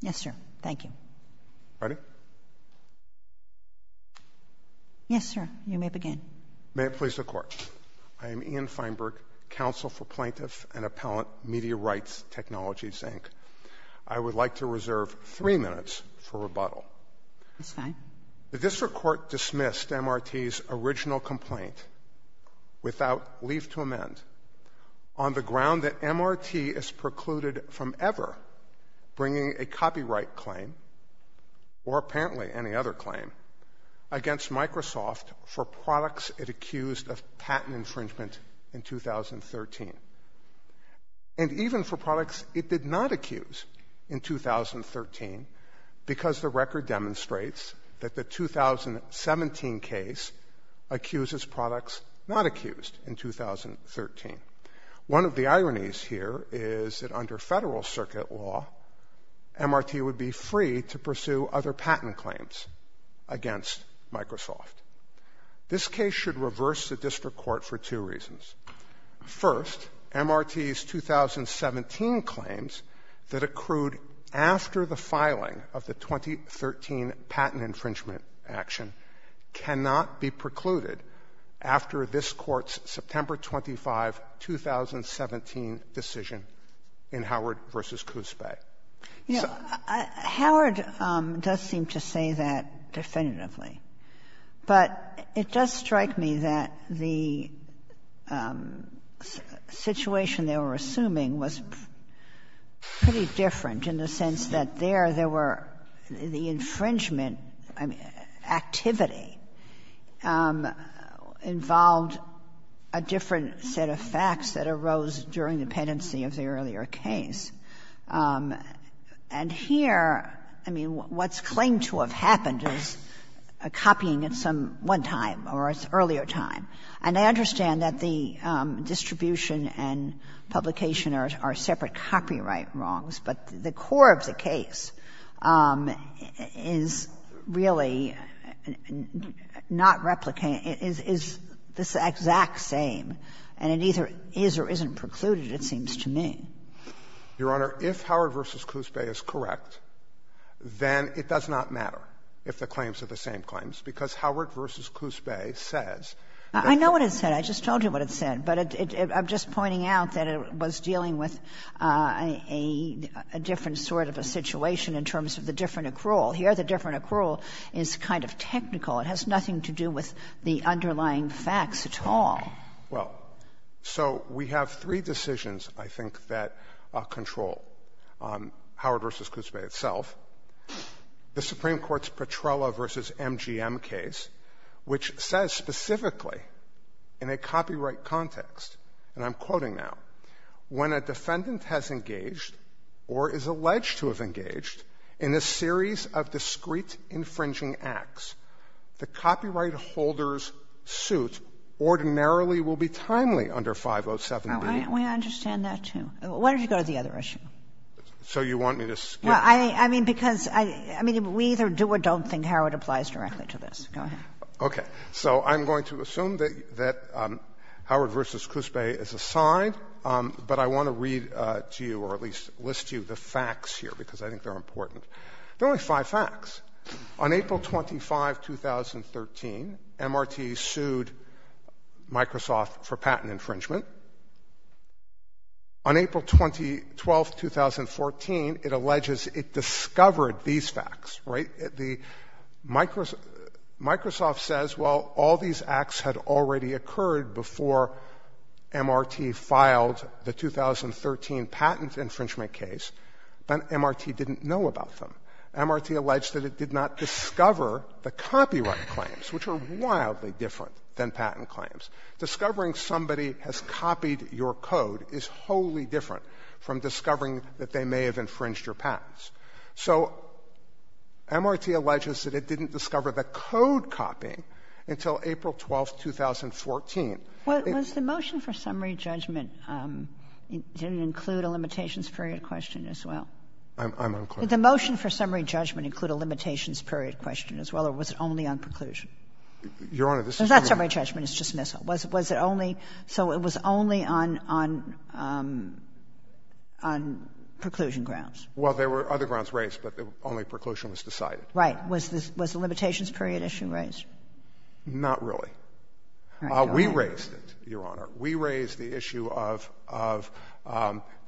Yes, sir. Thank you. Ready? Yes, sir. You may begin. May it please the Court. I am Ian Feinberg, Counsel for Plaintiffs and Appellant, Media Rights Technologies, Inc. I would like to reserve three minutes for rebuttal. That's fine. on the ground that MRT is precluded from ever bringing a copyright claim, or apparently any other claim, against Microsoft for products it accused of patent infringement in 2013. And even for products it did not accuse in 2013, because the record demonstrates that the 2017 case accuses products not accused in 2013. One of the ironies here is that under federal circuit law, MRT would be free to pursue other patent claims against Microsoft. This case should reverse the district court for two reasons. First, MRT's 2017 claims that accrued after the filing of the 2013 patent infringement action cannot be precluded after this Court's September 25, 2017 decision in Howard v. Coos Bay. Yeah. Howard does seem to say that definitively. But it does strike me that the situation they were assuming was pretty different in the sense that there, there were the infringement activity involved a different set of facts that arose during the penancy of the earlier case. And here, I mean, what's claimed to have happened is a copying at some one time or at an earlier time. And I understand that the distribution and publication are separate copyright wrongs, but the core of the case is really not replicating, is this exact same. And it either is or isn't precluded, it seems to me. Your Honor, if Howard v. Coos Bay is correct, then it does not matter if the claims are the same claims, because Howard v. Coos Bay says that the. I know what it said. I just told you what it said. But I'm just pointing out that it was dealing with a different sort of a situation in terms of the different accrual. Here, the different accrual is kind of technical. It has nothing to do with the underlying facts at all. Well, so we have three decisions, I think, that control Howard v. Coos Bay itself. The Supreme Court's Petrella v. MGM case, which says specifically in a copyright context, and I'm quoting now, when a defendant has engaged or is alleged to have engaged in a series of discrete under 507B. We understand that, too. Why don't you go to the other issue? So you want me to skip it? I mean, because we either do or don't think Howard applies directly to this. Go ahead. Okay. So I'm going to assume that Howard v. Coos Bay is a side, but I want to read to you or at least list to you the facts here, because I think they're important. There are only five facts. On April 25, 2013, MRT sued Microsoft for patent infringement. On April 12, 2014, it alleges it discovered these facts, right? Microsoft says, well, all these acts had already occurred before MRT filed the 2013 patent infringement case, but MRT didn't know about them. MRT alleged that it did not discover the copyright claims, which are wildly different than patent claims. Discovering somebody has copied your code is wholly different from discovering that they may have infringed your patents. So MRT alleges that it didn't discover the code copying until April 12, 2014. Was the motion for summary judgment, did it include a limitations period question as well? I'm unclear. Did the motion for summary judgment include a limitations period question as well, or was it only on preclusion? Your Honor, this is only one. It's not summary judgment. It's dismissal. Was it only so it was only on preclusion grounds? Well, there were other grounds raised, but only preclusion was decided. Right. Was the limitations period issue raised? Not really. We raised it, Your Honor. We raised the issue of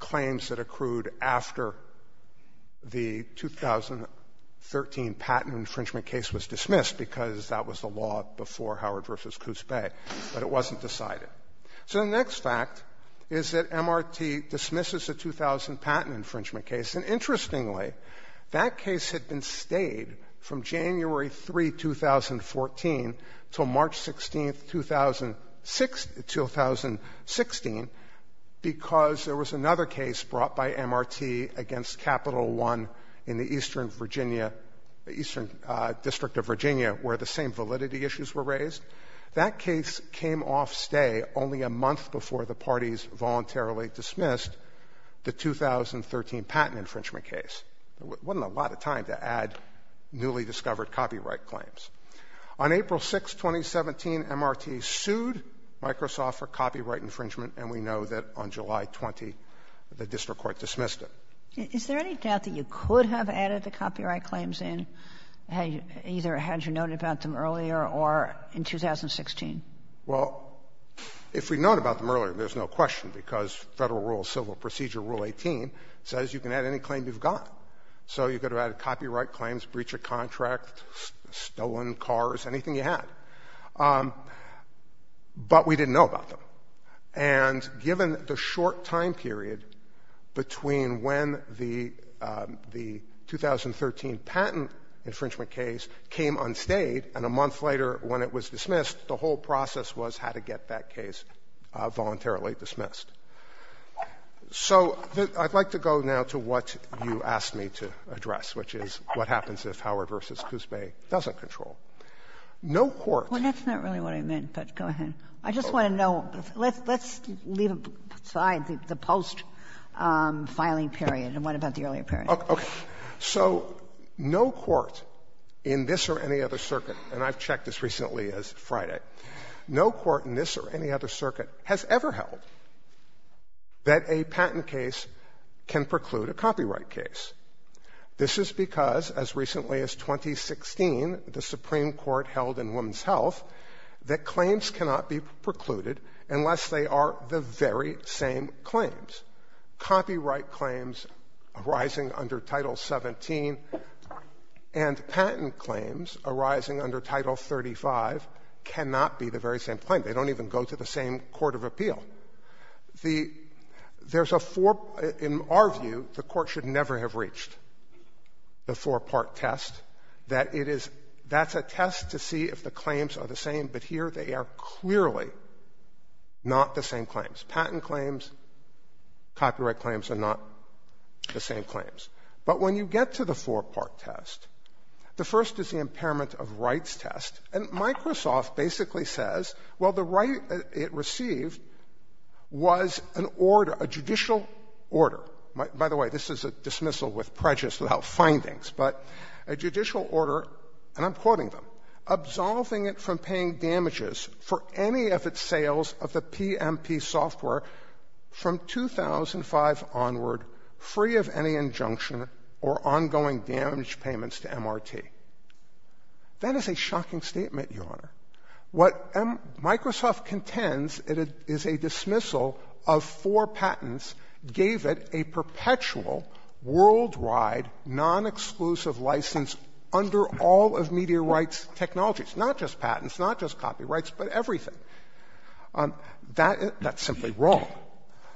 claims that accrued after the 2013 patent infringement case was dismissed, because that was the law before Howard v. Coots Bay. But it wasn't decided. So the next fact is that MRT dismisses the 2000 patent infringement case. And interestingly, that case had been stayed from January 3, 2014, until March 16, 2016, because there was another case brought by MRT against Capital One in the eastern Virginia, the eastern district of Virginia, where the same validity issues were raised. That case came off stay only a month before the parties voluntarily dismissed the 2013 patent infringement case. It wasn't a lot of time to add newly discovered copyright claims. On April 6, 2017, MRT sued Microsoft for copyright infringement, and we know that on July 20, the district court dismissed it. Is there any doubt that you could have added the copyright claims in, either had you known about them earlier or in 2016? Well, if we'd known about them earlier, there's no question, because Federal Rule of Civil Procedure, Rule 18, says you can add any claim you've got. So you could have added copyright claims, breach of contract, stolen cars, anything you had. But we didn't know about them. And given the short time period between when the 2013 patent infringement case came unstayed and a month later when it was dismissed, the whole process was how to get that case voluntarily dismissed. So I'd like to go now to what you asked me to address, which is what happens if Howard v. Coos Bay doesn't control. No court — Well, that's not really what I meant, but go ahead. I just want to know. Let's leave aside the post-filing period. And what about the earlier period? Okay. So no court in this or any other circuit, and I've checked as recently as Friday, no court in this or any other circuit has ever held that a patent case can preclude a copyright case. This is because, as recently as 2016, the Supreme Court held in Women's Health that claims cannot be precluded unless they are the very same claims. Copyright claims arising under Title 17 and patent claims arising under Title 35 cannot be the very same claim. They don't even go to the same court of appeal. There's a four — in our view, the court should never have reached the four-part test, that it is — that's a test to see if the claims are the same, but here they are clearly not the same claims. Patent claims, copyright claims are not the same claims. But when you get to the four-part test, the first is the impairment of rights test, and Microsoft basically says, well, the right it received was an order, a judicial order. By the way, this is a dismissal with prejudice without findings, but a judicial order, and I'm quoting them, absolving it from paying damages for any of its sales of the PMP software from 2005 onward, free of any injunction or ongoing damage payments to MRT. That is a shocking statement, Your Honor. What Microsoft contends is a dismissal of four patents gave it a perpetual, worldwide, non-exclusive license under all of media rights technologies, not just patents, not just copyrights, but everything. That's simply wrong.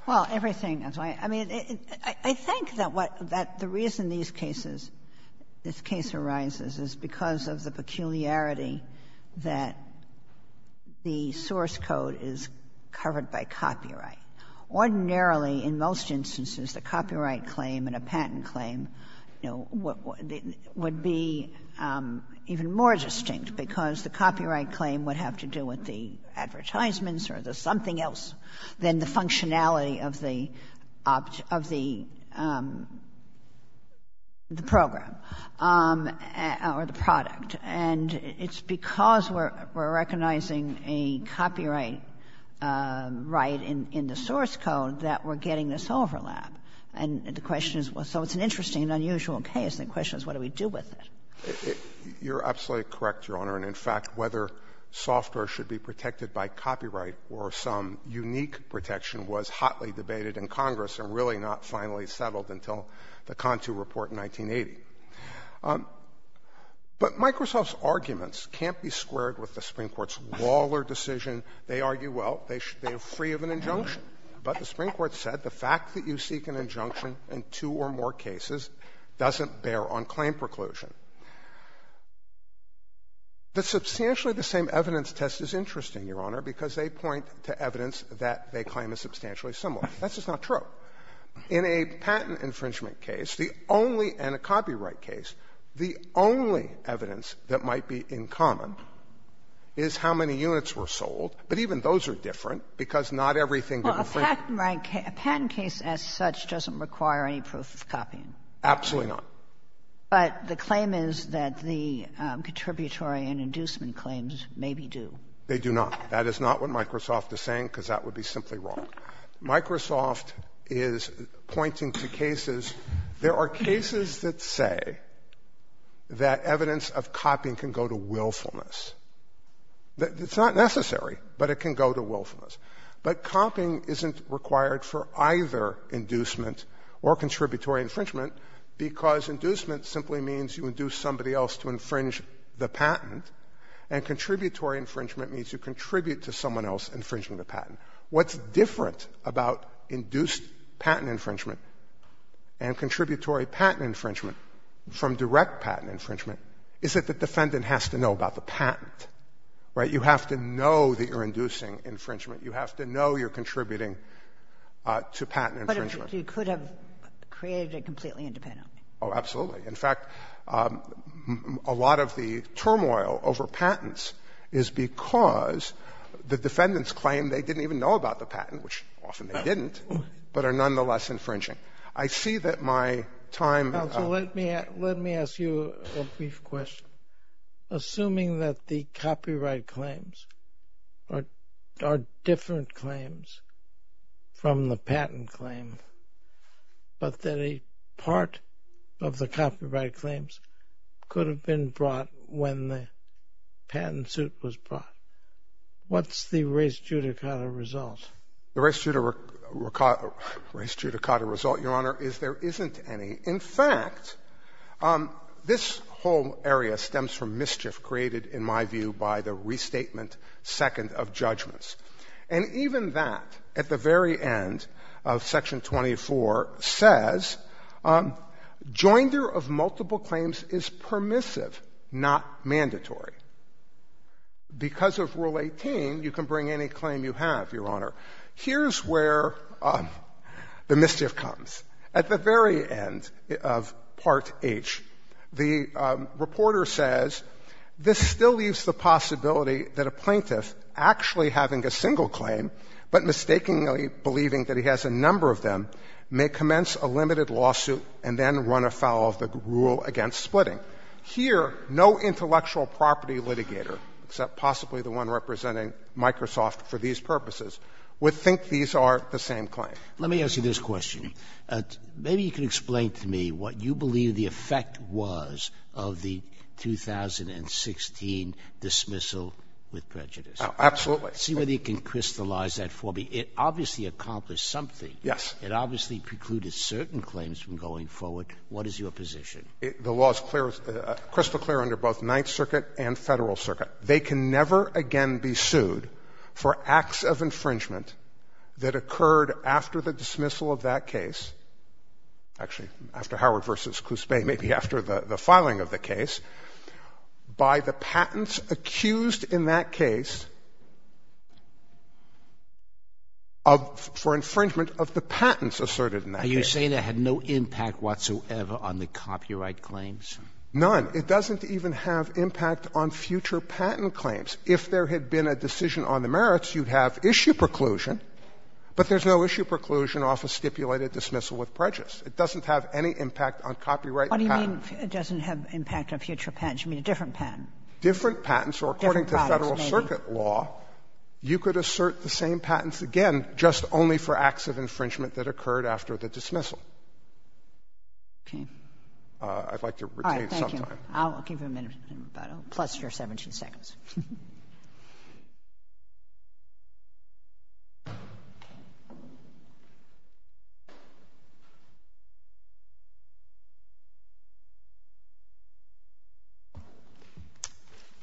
Well, everything. I mean, I think that what — that the reason these cases, this case arises is because of the peculiarity that the source code is covered by copyright. Ordinarily, in most instances, the copyright claim and a patent claim, you know, would be even more distinct because the copyright claim would have to do with the functionality of the — of the program or the product. And it's because we're recognizing a copyright right in the source code that we're getting this overlap. And the question is — so it's an interesting and unusual case. The question is, what do we do with it? You're absolutely correct, Your Honor. And, in fact, whether software should be protected by copyright or some unique protection was hotly debated in Congress and really not finally settled until the CONTU report in 1980. But Microsoft's arguments can't be squared with the Supreme Court's Lawler decision. They argue, well, they're free of an injunction. But the Supreme Court said the fact that you seek an injunction in two or more cases doesn't bear on claim preclusion. Substantially the same evidence test is interesting, Your Honor, because they point to evidence that they claim is substantially similar. That's just not true. In a patent infringement case, the only — and a copyright case — the only evidence that might be in common is how many units were sold. But even those are different because not everything that infringes — Absolutely not. But the claim is that the contributory and inducement claims maybe do. They do not. That is not what Microsoft is saying because that would be simply wrong. Microsoft is pointing to cases — there are cases that say that evidence of copying can go to willfulness. It's not necessary, but it can go to willfulness. But copying isn't required for either inducement or contributory infringement because inducement simply means you induce somebody else to infringe the patent, and contributory infringement means you contribute to someone else infringing the patent. What's different about induced patent infringement and contributory patent infringement from direct patent infringement is that the defendant has to know about the patent. Right? You have to know that you're inducing infringement. You have to know you're contributing to patent infringement. But you could have created it completely independently. Oh, absolutely. In fact, a lot of the turmoil over patents is because the defendants claim they didn't even know about the patent, which often they didn't, but are nonetheless infringing. I see that my time — Let me ask you a brief question. Assuming that the copyright claims are different claims from the patent claim, but that a part of the copyright claims could have been brought when the patent suit was brought, what's the res judicata result? The res judicata result, Your Honor, is there isn't any. In fact, this whole area stems from mischief created, in my view, by the restatement second of judgments. And even that, at the very end of Section 24, says joinder of multiple claims is permissive, not mandatory. Because of Rule 18, you can bring any claim you have, Your Honor. Here's where the mischief comes. At the very end of Part H, the reporter says, this still leaves the possibility that a plaintiff, actually having a single claim, but mistakenly believing that he has a number of them, may commence a limited lawsuit and then run afoul of the rule against splitting. Here, no intellectual property litigator, except possibly the one representing Microsoft for these purposes, would think these are the same claims. Let me ask you this question. Maybe you can explain to me what you believe the effect was of the 2016 dismissal with prejudice. Absolutely. See whether you can crystallize that for me. It obviously accomplished something. Yes. It obviously precluded certain claims from going forward. What is your position? The law is crystal clear under both Ninth Circuit and Federal Circuit. They can never again be sued for acts of infringement that occurred after the dismissal of that case, actually after Howard v. Cuspe, maybe after the filing of the case, by the patents accused in that case of — for infringement of the patents asserted in that case. You're saying it had no impact whatsoever on the copyright claims? None. It doesn't even have impact on future patent claims. If there had been a decision on the merits, you'd have issue preclusion, but there's no issue preclusion off a stipulated dismissal with prejudice. It doesn't have any impact on copyright patents. What do you mean it doesn't have impact on future patents? You mean a different patent? Different patents, or according to Federal Circuit law, you could assert the same Okay. I'd like to retain some time. All right. Thank you. I'll give you a minute, plus your 17 seconds.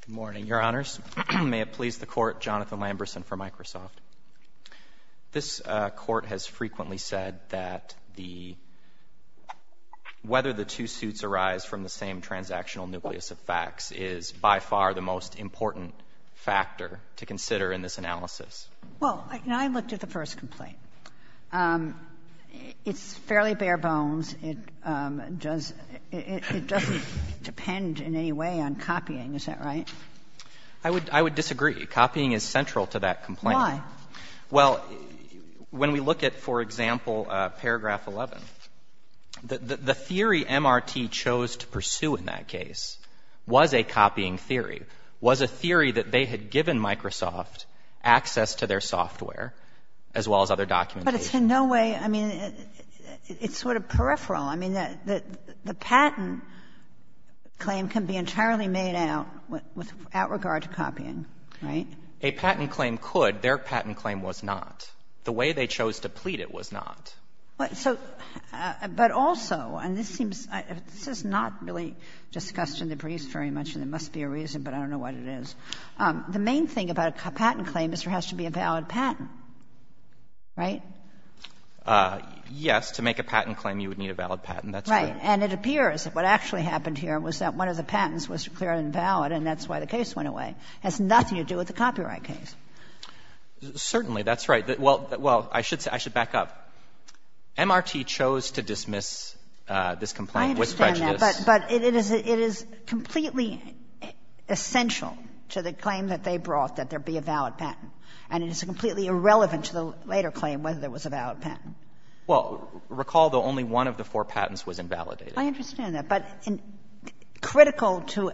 Good morning, Your Honors. May it please the Court, Jonathan Lamberson for Microsoft. This Court has frequently said that the — whether the two suits arise from the same transactional nucleus of facts is by far the most important factor to consider in this analysis. Well, I looked at the first complaint. It's fairly bare bones. It does — it doesn't depend in any way on copying. Is that right? Why? Well, when we look at, for example, paragraph 11, the theory MRT chose to pursue in that case was a copying theory, was a theory that they had given Microsoft access to their software as well as other documentation. But it's in no way — I mean, it's sort of peripheral. I mean, the patent claim can be entirely made out with — without regard to copying, right? A patent claim could. Their patent claim was not. The way they chose to plead it was not. But so — but also, and this seems — this is not really discussed in the briefs very much, and there must be a reason, but I don't know what it is. The main thing about a patent claim is there has to be a valid patent, right? Yes. To make a patent claim, you would need a valid patent. That's right. Right. And it appears that what actually happened here was that one of the patents was declared invalid, and that's why the case went away. It has nothing to do with the copyright case. Certainly. That's right. Well, I should back up. MRT chose to dismiss this complaint with prejudice. I understand that, but it is completely essential to the claim that they brought, that there be a valid patent. And it is completely irrelevant to the later claim whether there was a valid patent. Well, recall, though, only one of the four patents was invalidated. I understand that. But critical to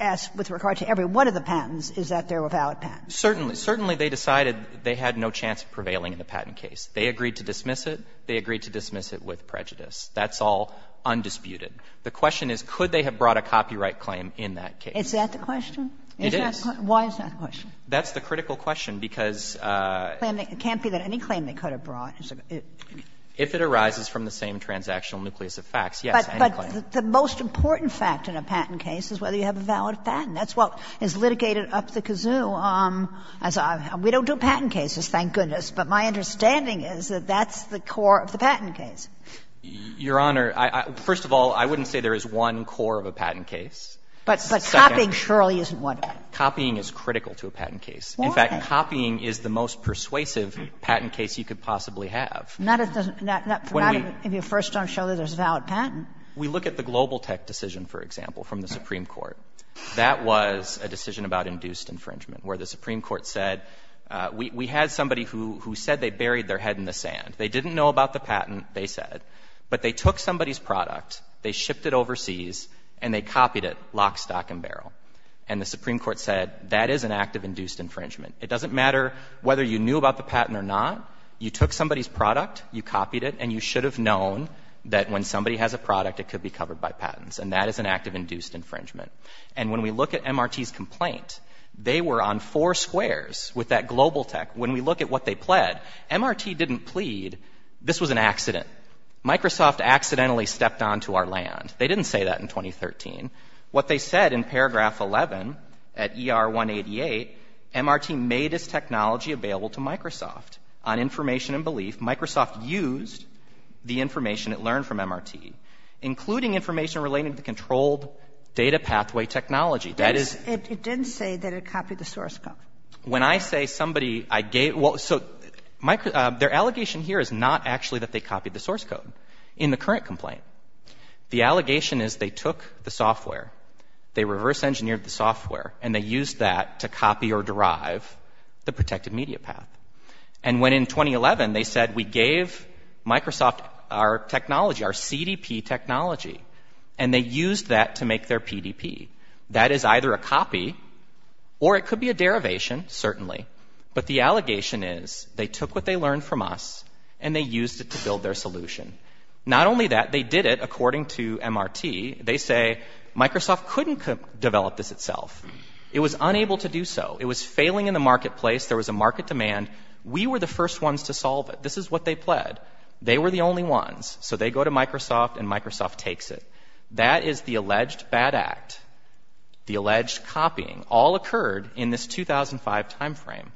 us with regard to every one of the patents is that there were valid patents. Certainly. Certainly, they decided they had no chance of prevailing in the patent case. They agreed to dismiss it. They agreed to dismiss it with prejudice. That's all undisputed. The question is, could they have brought a copyright claim in that case? Is that the question? It is. Why is that the question? That's the critical question, because — It can't be that any claim they could have brought is a — If it arises from the same transactional nucleus of facts, yes. But the most important fact in a patent case is whether you have a valid patent. That's what is litigated up the kazoo. We don't do patent cases, thank goodness, but my understanding is that that's the core of the patent case. Your Honor, first of all, I wouldn't say there is one core of a patent case. But copying surely isn't one of them. Copying is critical to a patent case. In fact, copying is the most persuasive patent case you could possibly have. If you first don't show that there's a valid patent. We look at the Global Tech decision, for example, from the Supreme Court. That was a decision about induced infringement, where the Supreme Court said we had somebody who said they buried their head in the sand. They didn't know about the patent, they said. But they took somebody's product, they shipped it overseas, and they copied it lock, stock and barrel. And the Supreme Court said that is an act of induced infringement. It doesn't matter whether you knew about the patent or not. You took somebody's product, you copied it, and you should have known that when somebody has a product, it could be covered by patents. And that is an act of induced infringement. And when we look at MRT's complaint, they were on four squares with that Global Tech. When we look at what they pled, MRT didn't plead this was an accident. Microsoft accidentally stepped onto our land. They didn't say that in 2013. What they said in paragraph 11 at ER 188, MRT made its technology available to Microsoft. On information and belief, Microsoft used the information it learned from MRT, including information relating to controlled data pathway technology. That is — It didn't say that it copied the source code. When I say somebody — well, so their allegation here is not actually that they copied the source code in the current complaint. The allegation is they took the software, they reverse engineered the software, and they used that to copy or derive the protected media path. And when in 2011, they said we gave Microsoft our technology, our CDP technology, and they used that to make their PDP. That is either a copy or it could be a derivation, certainly. But the allegation is they took what they learned from us and they used it to build their solution. Not only that, they did it according to MRT. They say Microsoft couldn't develop this itself. It was unable to do so. It was failing in the marketplace. There was a market demand. We were the first ones to solve it. This is what they pled. They were the only ones. So they go to Microsoft and Microsoft takes it. That is the alleged bad act, the alleged copying. All occurred in this 2005 timeframe.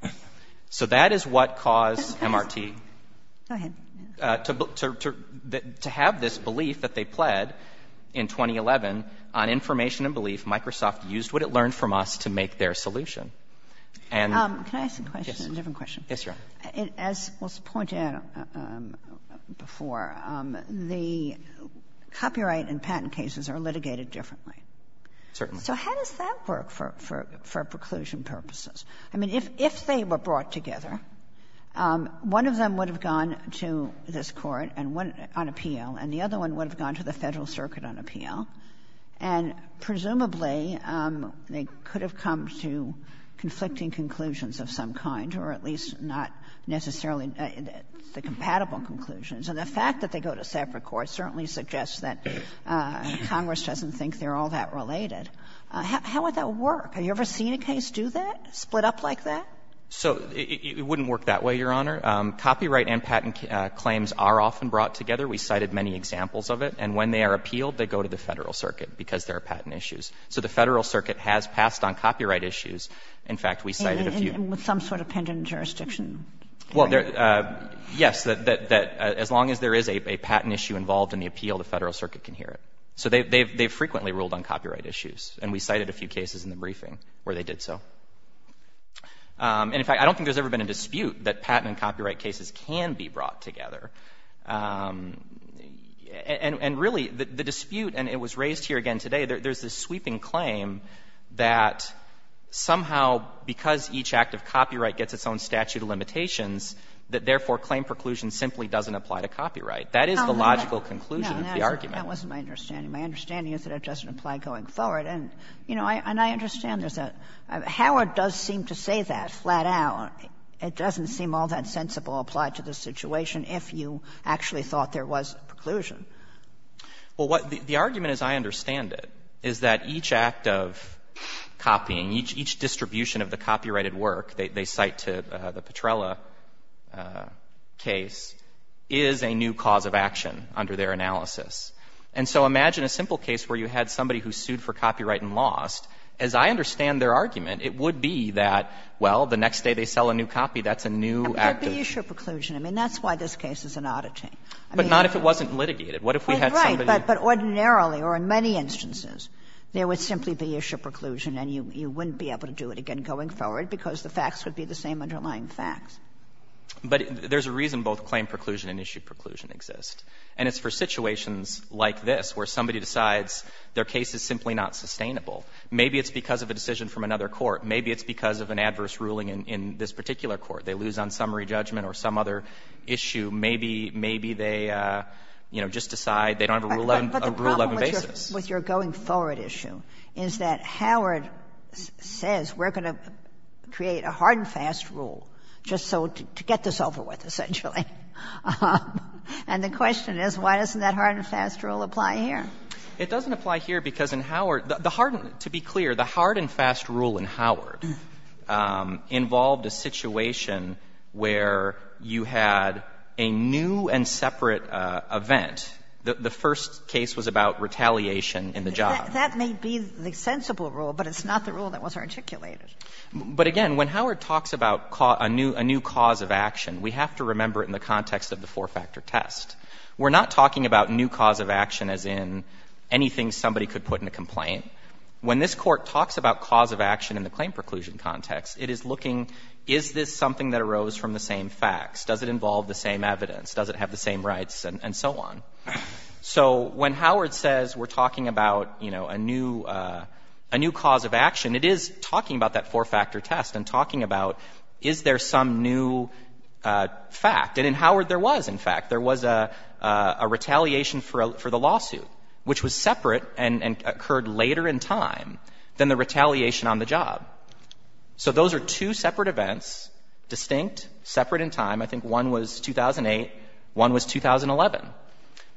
So that is what caused MRT to have this belief that they pled in 2011 on information and belief. Microsoft used what it learned from us to make their solution. And yes. Kagan. Ginsburg. Can I ask a question, a different question? Yes, Your Honor. As was pointed out before, the copyright and patent cases are litigated differently. Certainly. So how does that work for preclusion purposes? I mean, if they were brought together, one of them would have gone to this Court and presumably they could have come to conflicting conclusions of some kind, or at least not necessarily the compatible conclusions. And the fact that they go to separate courts certainly suggests that Congress doesn't think they're all that related. How would that work? Have you ever seen a case do that, split up like that? So it wouldn't work that way, Your Honor. Copyright and patent claims are often brought together. We cited many examples of it. And when they are appealed, they go to the Federal Circuit, because there are patent issues. So the Federal Circuit has passed on copyright issues. In fact, we cited a few. And with some sort of pending jurisdiction. Well, yes. As long as there is a patent issue involved in the appeal, the Federal Circuit can hear it. So they frequently ruled on copyright issues. And we cited a few cases in the briefing where they did so. And in fact, I don't think there's ever been a dispute that patent and copyright cases can be brought together. And really, the dispute, and it was raised here again today, there's this sweeping claim that somehow because each act of copyright gets its own statute of limitations, that therefore claim preclusion simply doesn't apply to copyright. That is the logical conclusion of the argument. Kagan. No, that wasn't my understanding. My understanding is that it doesn't apply going forward. And, you know, and I understand there's a — Howard does seem to say that flat out. It doesn't seem all that sensible applied to the situation if you actually thought there was a preclusion. Well, what — the argument as I understand it is that each act of copying, each distribution of the copyrighted work they cite to the Petrella case is a new cause of action under their analysis. And so imagine a simple case where you had somebody who sued for copyright and lost. As I understand their argument, it would be that, well, the next day they sell a new copy, that's a new act of — But there would be issue preclusion. I mean, that's why this case is an auditing. I mean — But not if it wasn't litigated. What if we had somebody — Right, but ordinarily, or in many instances, there would simply be issue preclusion, and you wouldn't be able to do it again going forward because the facts would be the same underlying facts. But there's a reason both claim preclusion and issue preclusion exist. And it's for situations like this where somebody decides their case is simply not sustainable. Maybe it's because of a decision from another court. Maybe it's because of an adverse ruling in this particular court. They lose on summary judgment or some other issue. Maybe, maybe they, you know, just decide they don't have a Rule 11 basis. But the problem with your going-forward issue is that Howard says we're going to create a hard-and-fast rule just to get this over with, essentially. And the question is, why doesn't that hard-and-fast rule apply here? It doesn't apply here because in Howard, the hard — to be clear, the hard-and-fast rule in Howard involved a situation where you had a new and separate event. The first case was about retaliation in the job. That may be the sensible rule, but it's not the rule that was articulated. But, again, when Howard talks about a new cause of action, we have to remember it in the context of the four-factor test. We're not talking about new cause of action as in anything somebody could put in a complaint. When this Court talks about cause of action in the claim preclusion context, it is looking, is this something that arose from the same facts? Does it involve the same evidence? Does it have the same rights? And so on. So when Howard says we're talking about, you know, a new cause of action, it is talking about that four-factor test and talking about is there some new fact. And in Howard there was, in fact. There was a retaliation for the lawsuit, which was separate and occurred later in time than the retaliation on the job. So those are two separate events, distinct, separate in time. I think one was 2008. One was 2011.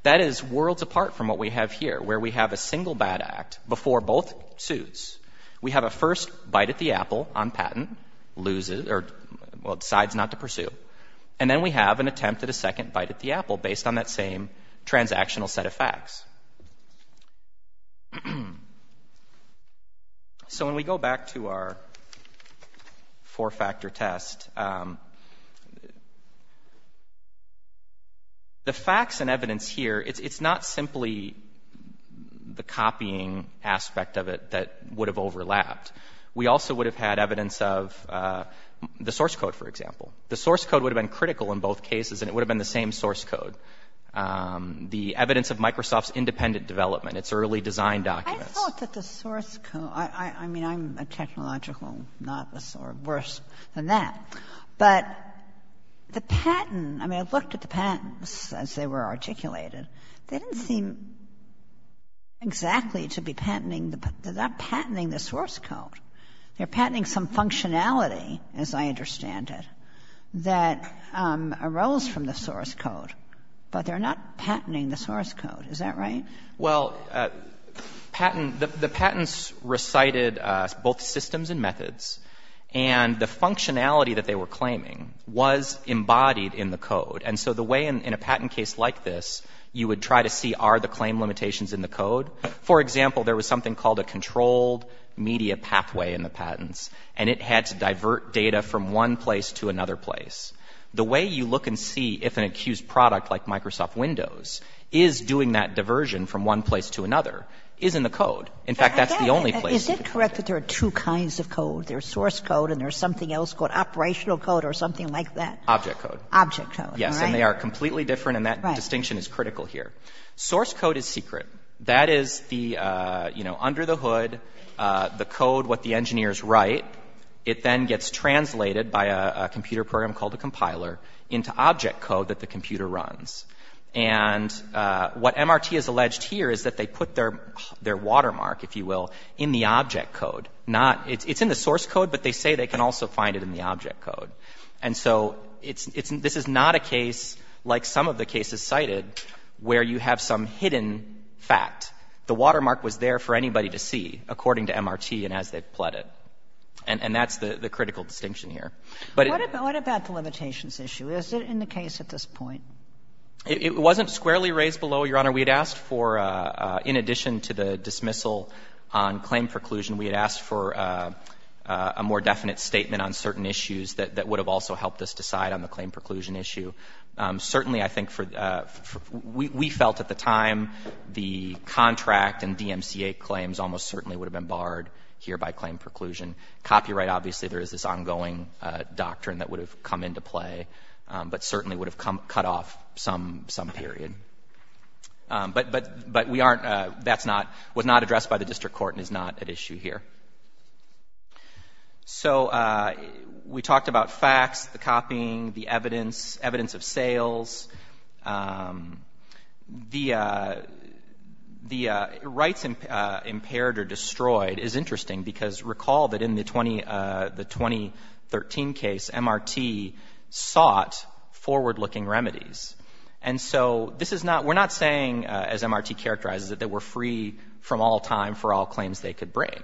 That is worlds apart from what we have here, where we have a single bad act before both suits. We have a first bite at the apple on patent, loses or decides not to pursue. And then we have an attempt at a second bite at the apple based on that same transactional set of facts. So when we go back to our four-factor test, the facts and evidence here, it is not simply the copying aspect of it that would have overlapped. We also would have had evidence of the source code, for example. The source code would have been critical in both cases, and it would have been the same source code. The evidence of Microsoft's independent development, its early design documents. I thought that the source code, I mean, I'm a technological novice or worse than that, but the patent, I mean, I looked at the patents as they were articulated. They didn't seem exactly to be patenting. They are not patenting the source code. They are patenting some functionality, as I understand it, that arose from the source code, but they are not patenting the source code. Is that right? Well, patent, the patents recited both systems and methods, and the functionality that they were claiming was embodied in the code. And so the way in a patent case like this, you would try to see are the claim limitations in the code. For example, there was something called a controlled media pathway in the patents, and it had to divert data from one place to another place. The way you look and see if an accused product like Microsoft Windows is doing that diversion from one place to another is in the code. In fact, that's the only place. Is it correct that there are two kinds of code? There's source code and there's something else called operational code or something like that? Object code. Object code, all right. Yes, and they are completely different, and that distinction is critical here. Right. Source code is secret. That is the, you know, under the hood, the code, what the engineers write. It then gets translated by a computer program called a compiler into object code that the computer runs. And what MRT has alleged here is that they put their watermark, if you will, in the object code, not — it's in the source code, but they say they can also find it in the object code. And so it's — this is not a case like some of the cases cited where you have some hidden fact. The watermark was there for anybody to see, according to MRT and as they've plotted. And that's the critical distinction here. But it — What about the limitations issue? Is it in the case at this point? It wasn't squarely raised below, Your Honor. We had asked for, in addition to the dismissal on claim preclusion, we had asked for a more definite statement on certain issues that would have also helped us decide on the claim preclusion issue. Certainly, I think for — we felt at the time the contract and DMCA claims almost certainly would have been barred here by claim preclusion. Copyright, obviously, there is this ongoing doctrine that would have come into play, but certainly would have cut off some period. But we aren't — that's not — was not addressed by the district court and is not at issue here. So we talked about facts, the copying, the evidence, evidence of sales. The rights impaired or destroyed is interesting because recall that in the 2013 case, MRT sought forward-looking remedies. And so this is not — we're not saying, as MRT characterizes it, that we're free from all time for all claims they could bring.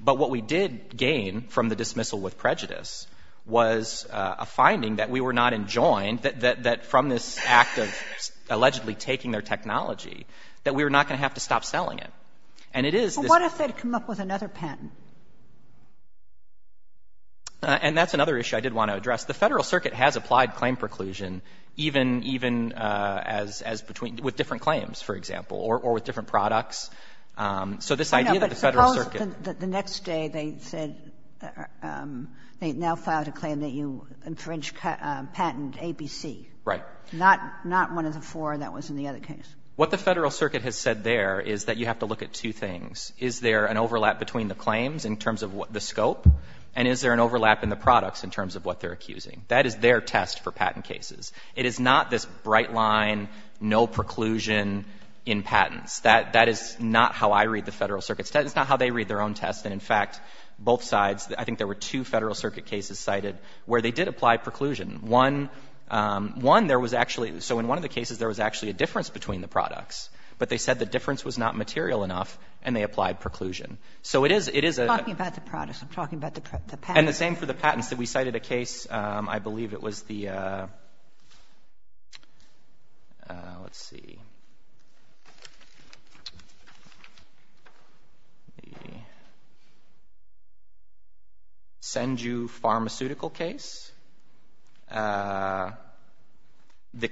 But what we did gain from the dismissal with prejudice was a finding that we were not enjoined that — that from this act of allegedly taking their technology, that we were not going to have to stop selling it. And it is this — But what if they'd come up with another patent? And that's another issue I did want to address. The Federal Circuit has applied claim preclusion even — even as — as between — with different claims, for example, or with different products. So this idea that the Federal Circuit — The next day they said — they now filed a claim that you infringed patent ABC. Right. Not — not one of the four that was in the other case. What the Federal Circuit has said there is that you have to look at two things. Is there an overlap between the claims in terms of the scope? And is there an overlap in the products in terms of what they're accusing? That is their test for patent cases. It is not this bright line, no preclusion in patents. That — that is not how I read the Federal Circuit's test. It's not how they read their own test. And, in fact, both sides, I think there were two Federal Circuit cases cited where they did apply preclusion. One — one, there was actually — so in one of the cases, there was actually a difference between the products. But they said the difference was not material enough, and they applied preclusion. So it is — it is a — You're talking about the products. I'm talking about the patents. And the same for the patents. that we cited a case, I believe it was the — let's see — the Senju Pharmaceutical case. The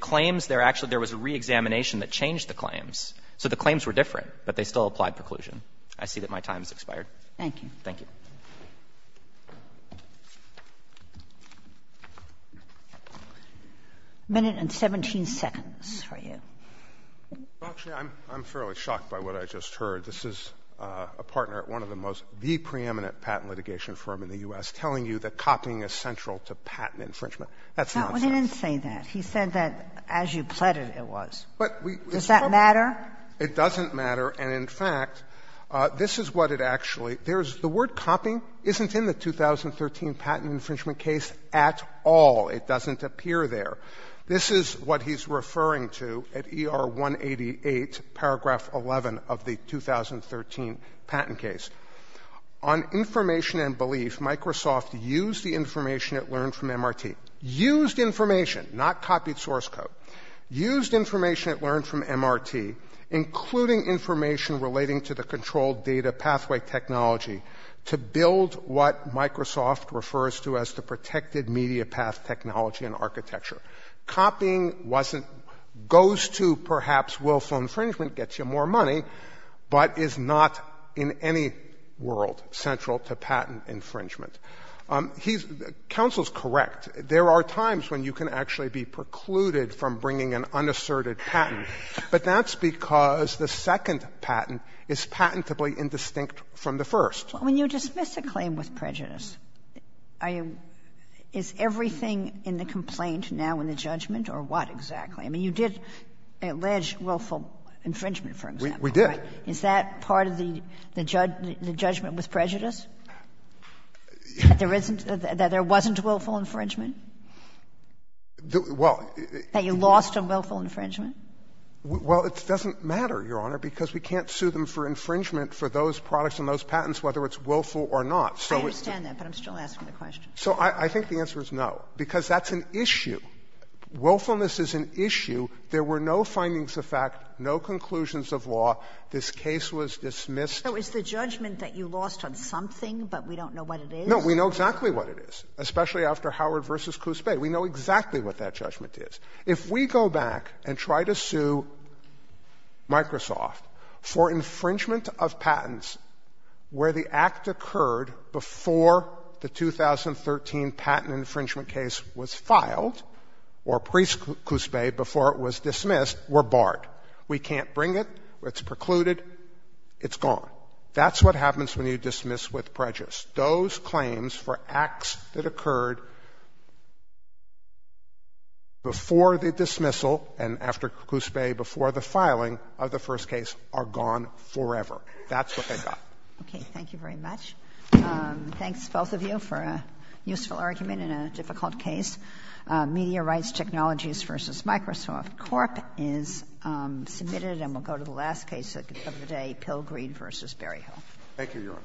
claims there — actually, there was a reexamination that changed the claims. So the claims were different, but they still applied preclusion. I see that my time has expired. Thank you. Thank you. A minute and 17 seconds for you. Well, actually, I'm — I'm fairly shocked by what I just heard. This is a partner at one of the most — the preeminent patent litigation firm in the U.S. telling you that copying is central to patent infringement. That's nonsense. No, he didn't say that. He said that as you pleaded, it was. But we — Does that matter? It doesn't matter. And, in fact, this is what it actually — there's — the word copying isn't in the 2013 patent infringement case at all. It doesn't appear there. This is what he's referring to at ER 188, paragraph 11 of the 2013 patent case. On information and belief, Microsoft used the information it learned from MRT. Used information, not copied source code. Used information it learned from MRT, including information relating to the controlled data pathway technology, to build what Microsoft refers to as the protected media path technology and architecture. Copying wasn't — goes to, perhaps, willful infringement, gets you more money, but is not in any world central to patent infringement. He's — counsel's correct. There are times when you can actually be precluded from bringing an unasserted patent, but that's because the second patent is patentably indistinct from the first. Well, when you dismiss a claim with prejudice, I — is everything in the complaint now in the judgment, or what exactly? I mean, you did allege willful infringement, for example. We did. Is that part of the — the judgment with prejudice? That there isn't — that there wasn't willful infringement? Well, it — That you lost on willful infringement? Well, it doesn't matter, Your Honor, because we can't sue them for infringement for those products and those patents, whether it's willful or not. So it's — I understand that, but I'm still asking the question. So I think the answer is no, because that's an issue. Willfulness is an issue. There were no findings of fact, no conclusions of law. This case was dismissed. So it's the judgment that you lost on something, but we don't know what it is? No, we know exactly what it is, especially after Howard v. Cuspe. We know exactly what that judgment is. If we go back and try to sue Microsoft for infringement of patents where the act occurred before the 2013 patent infringement case was filed, or pre-Cuspe, before it was dismissed, we're barred. We can't bring it. It's precluded. It's gone. That's what happens when you dismiss with prejudice. Those claims for acts that occurred before the dismissal and after Cuspe, before the filing of the first case, are gone forever. That's what they got. Okay. Thank you very much. Thanks, both of you, for a useful argument in a difficult case. Media Rights Technologies v. Microsoft Corp. is submitted, and we'll go to the last case of the day, Pilgrim v. Berryhill. Thank you, Your Honor.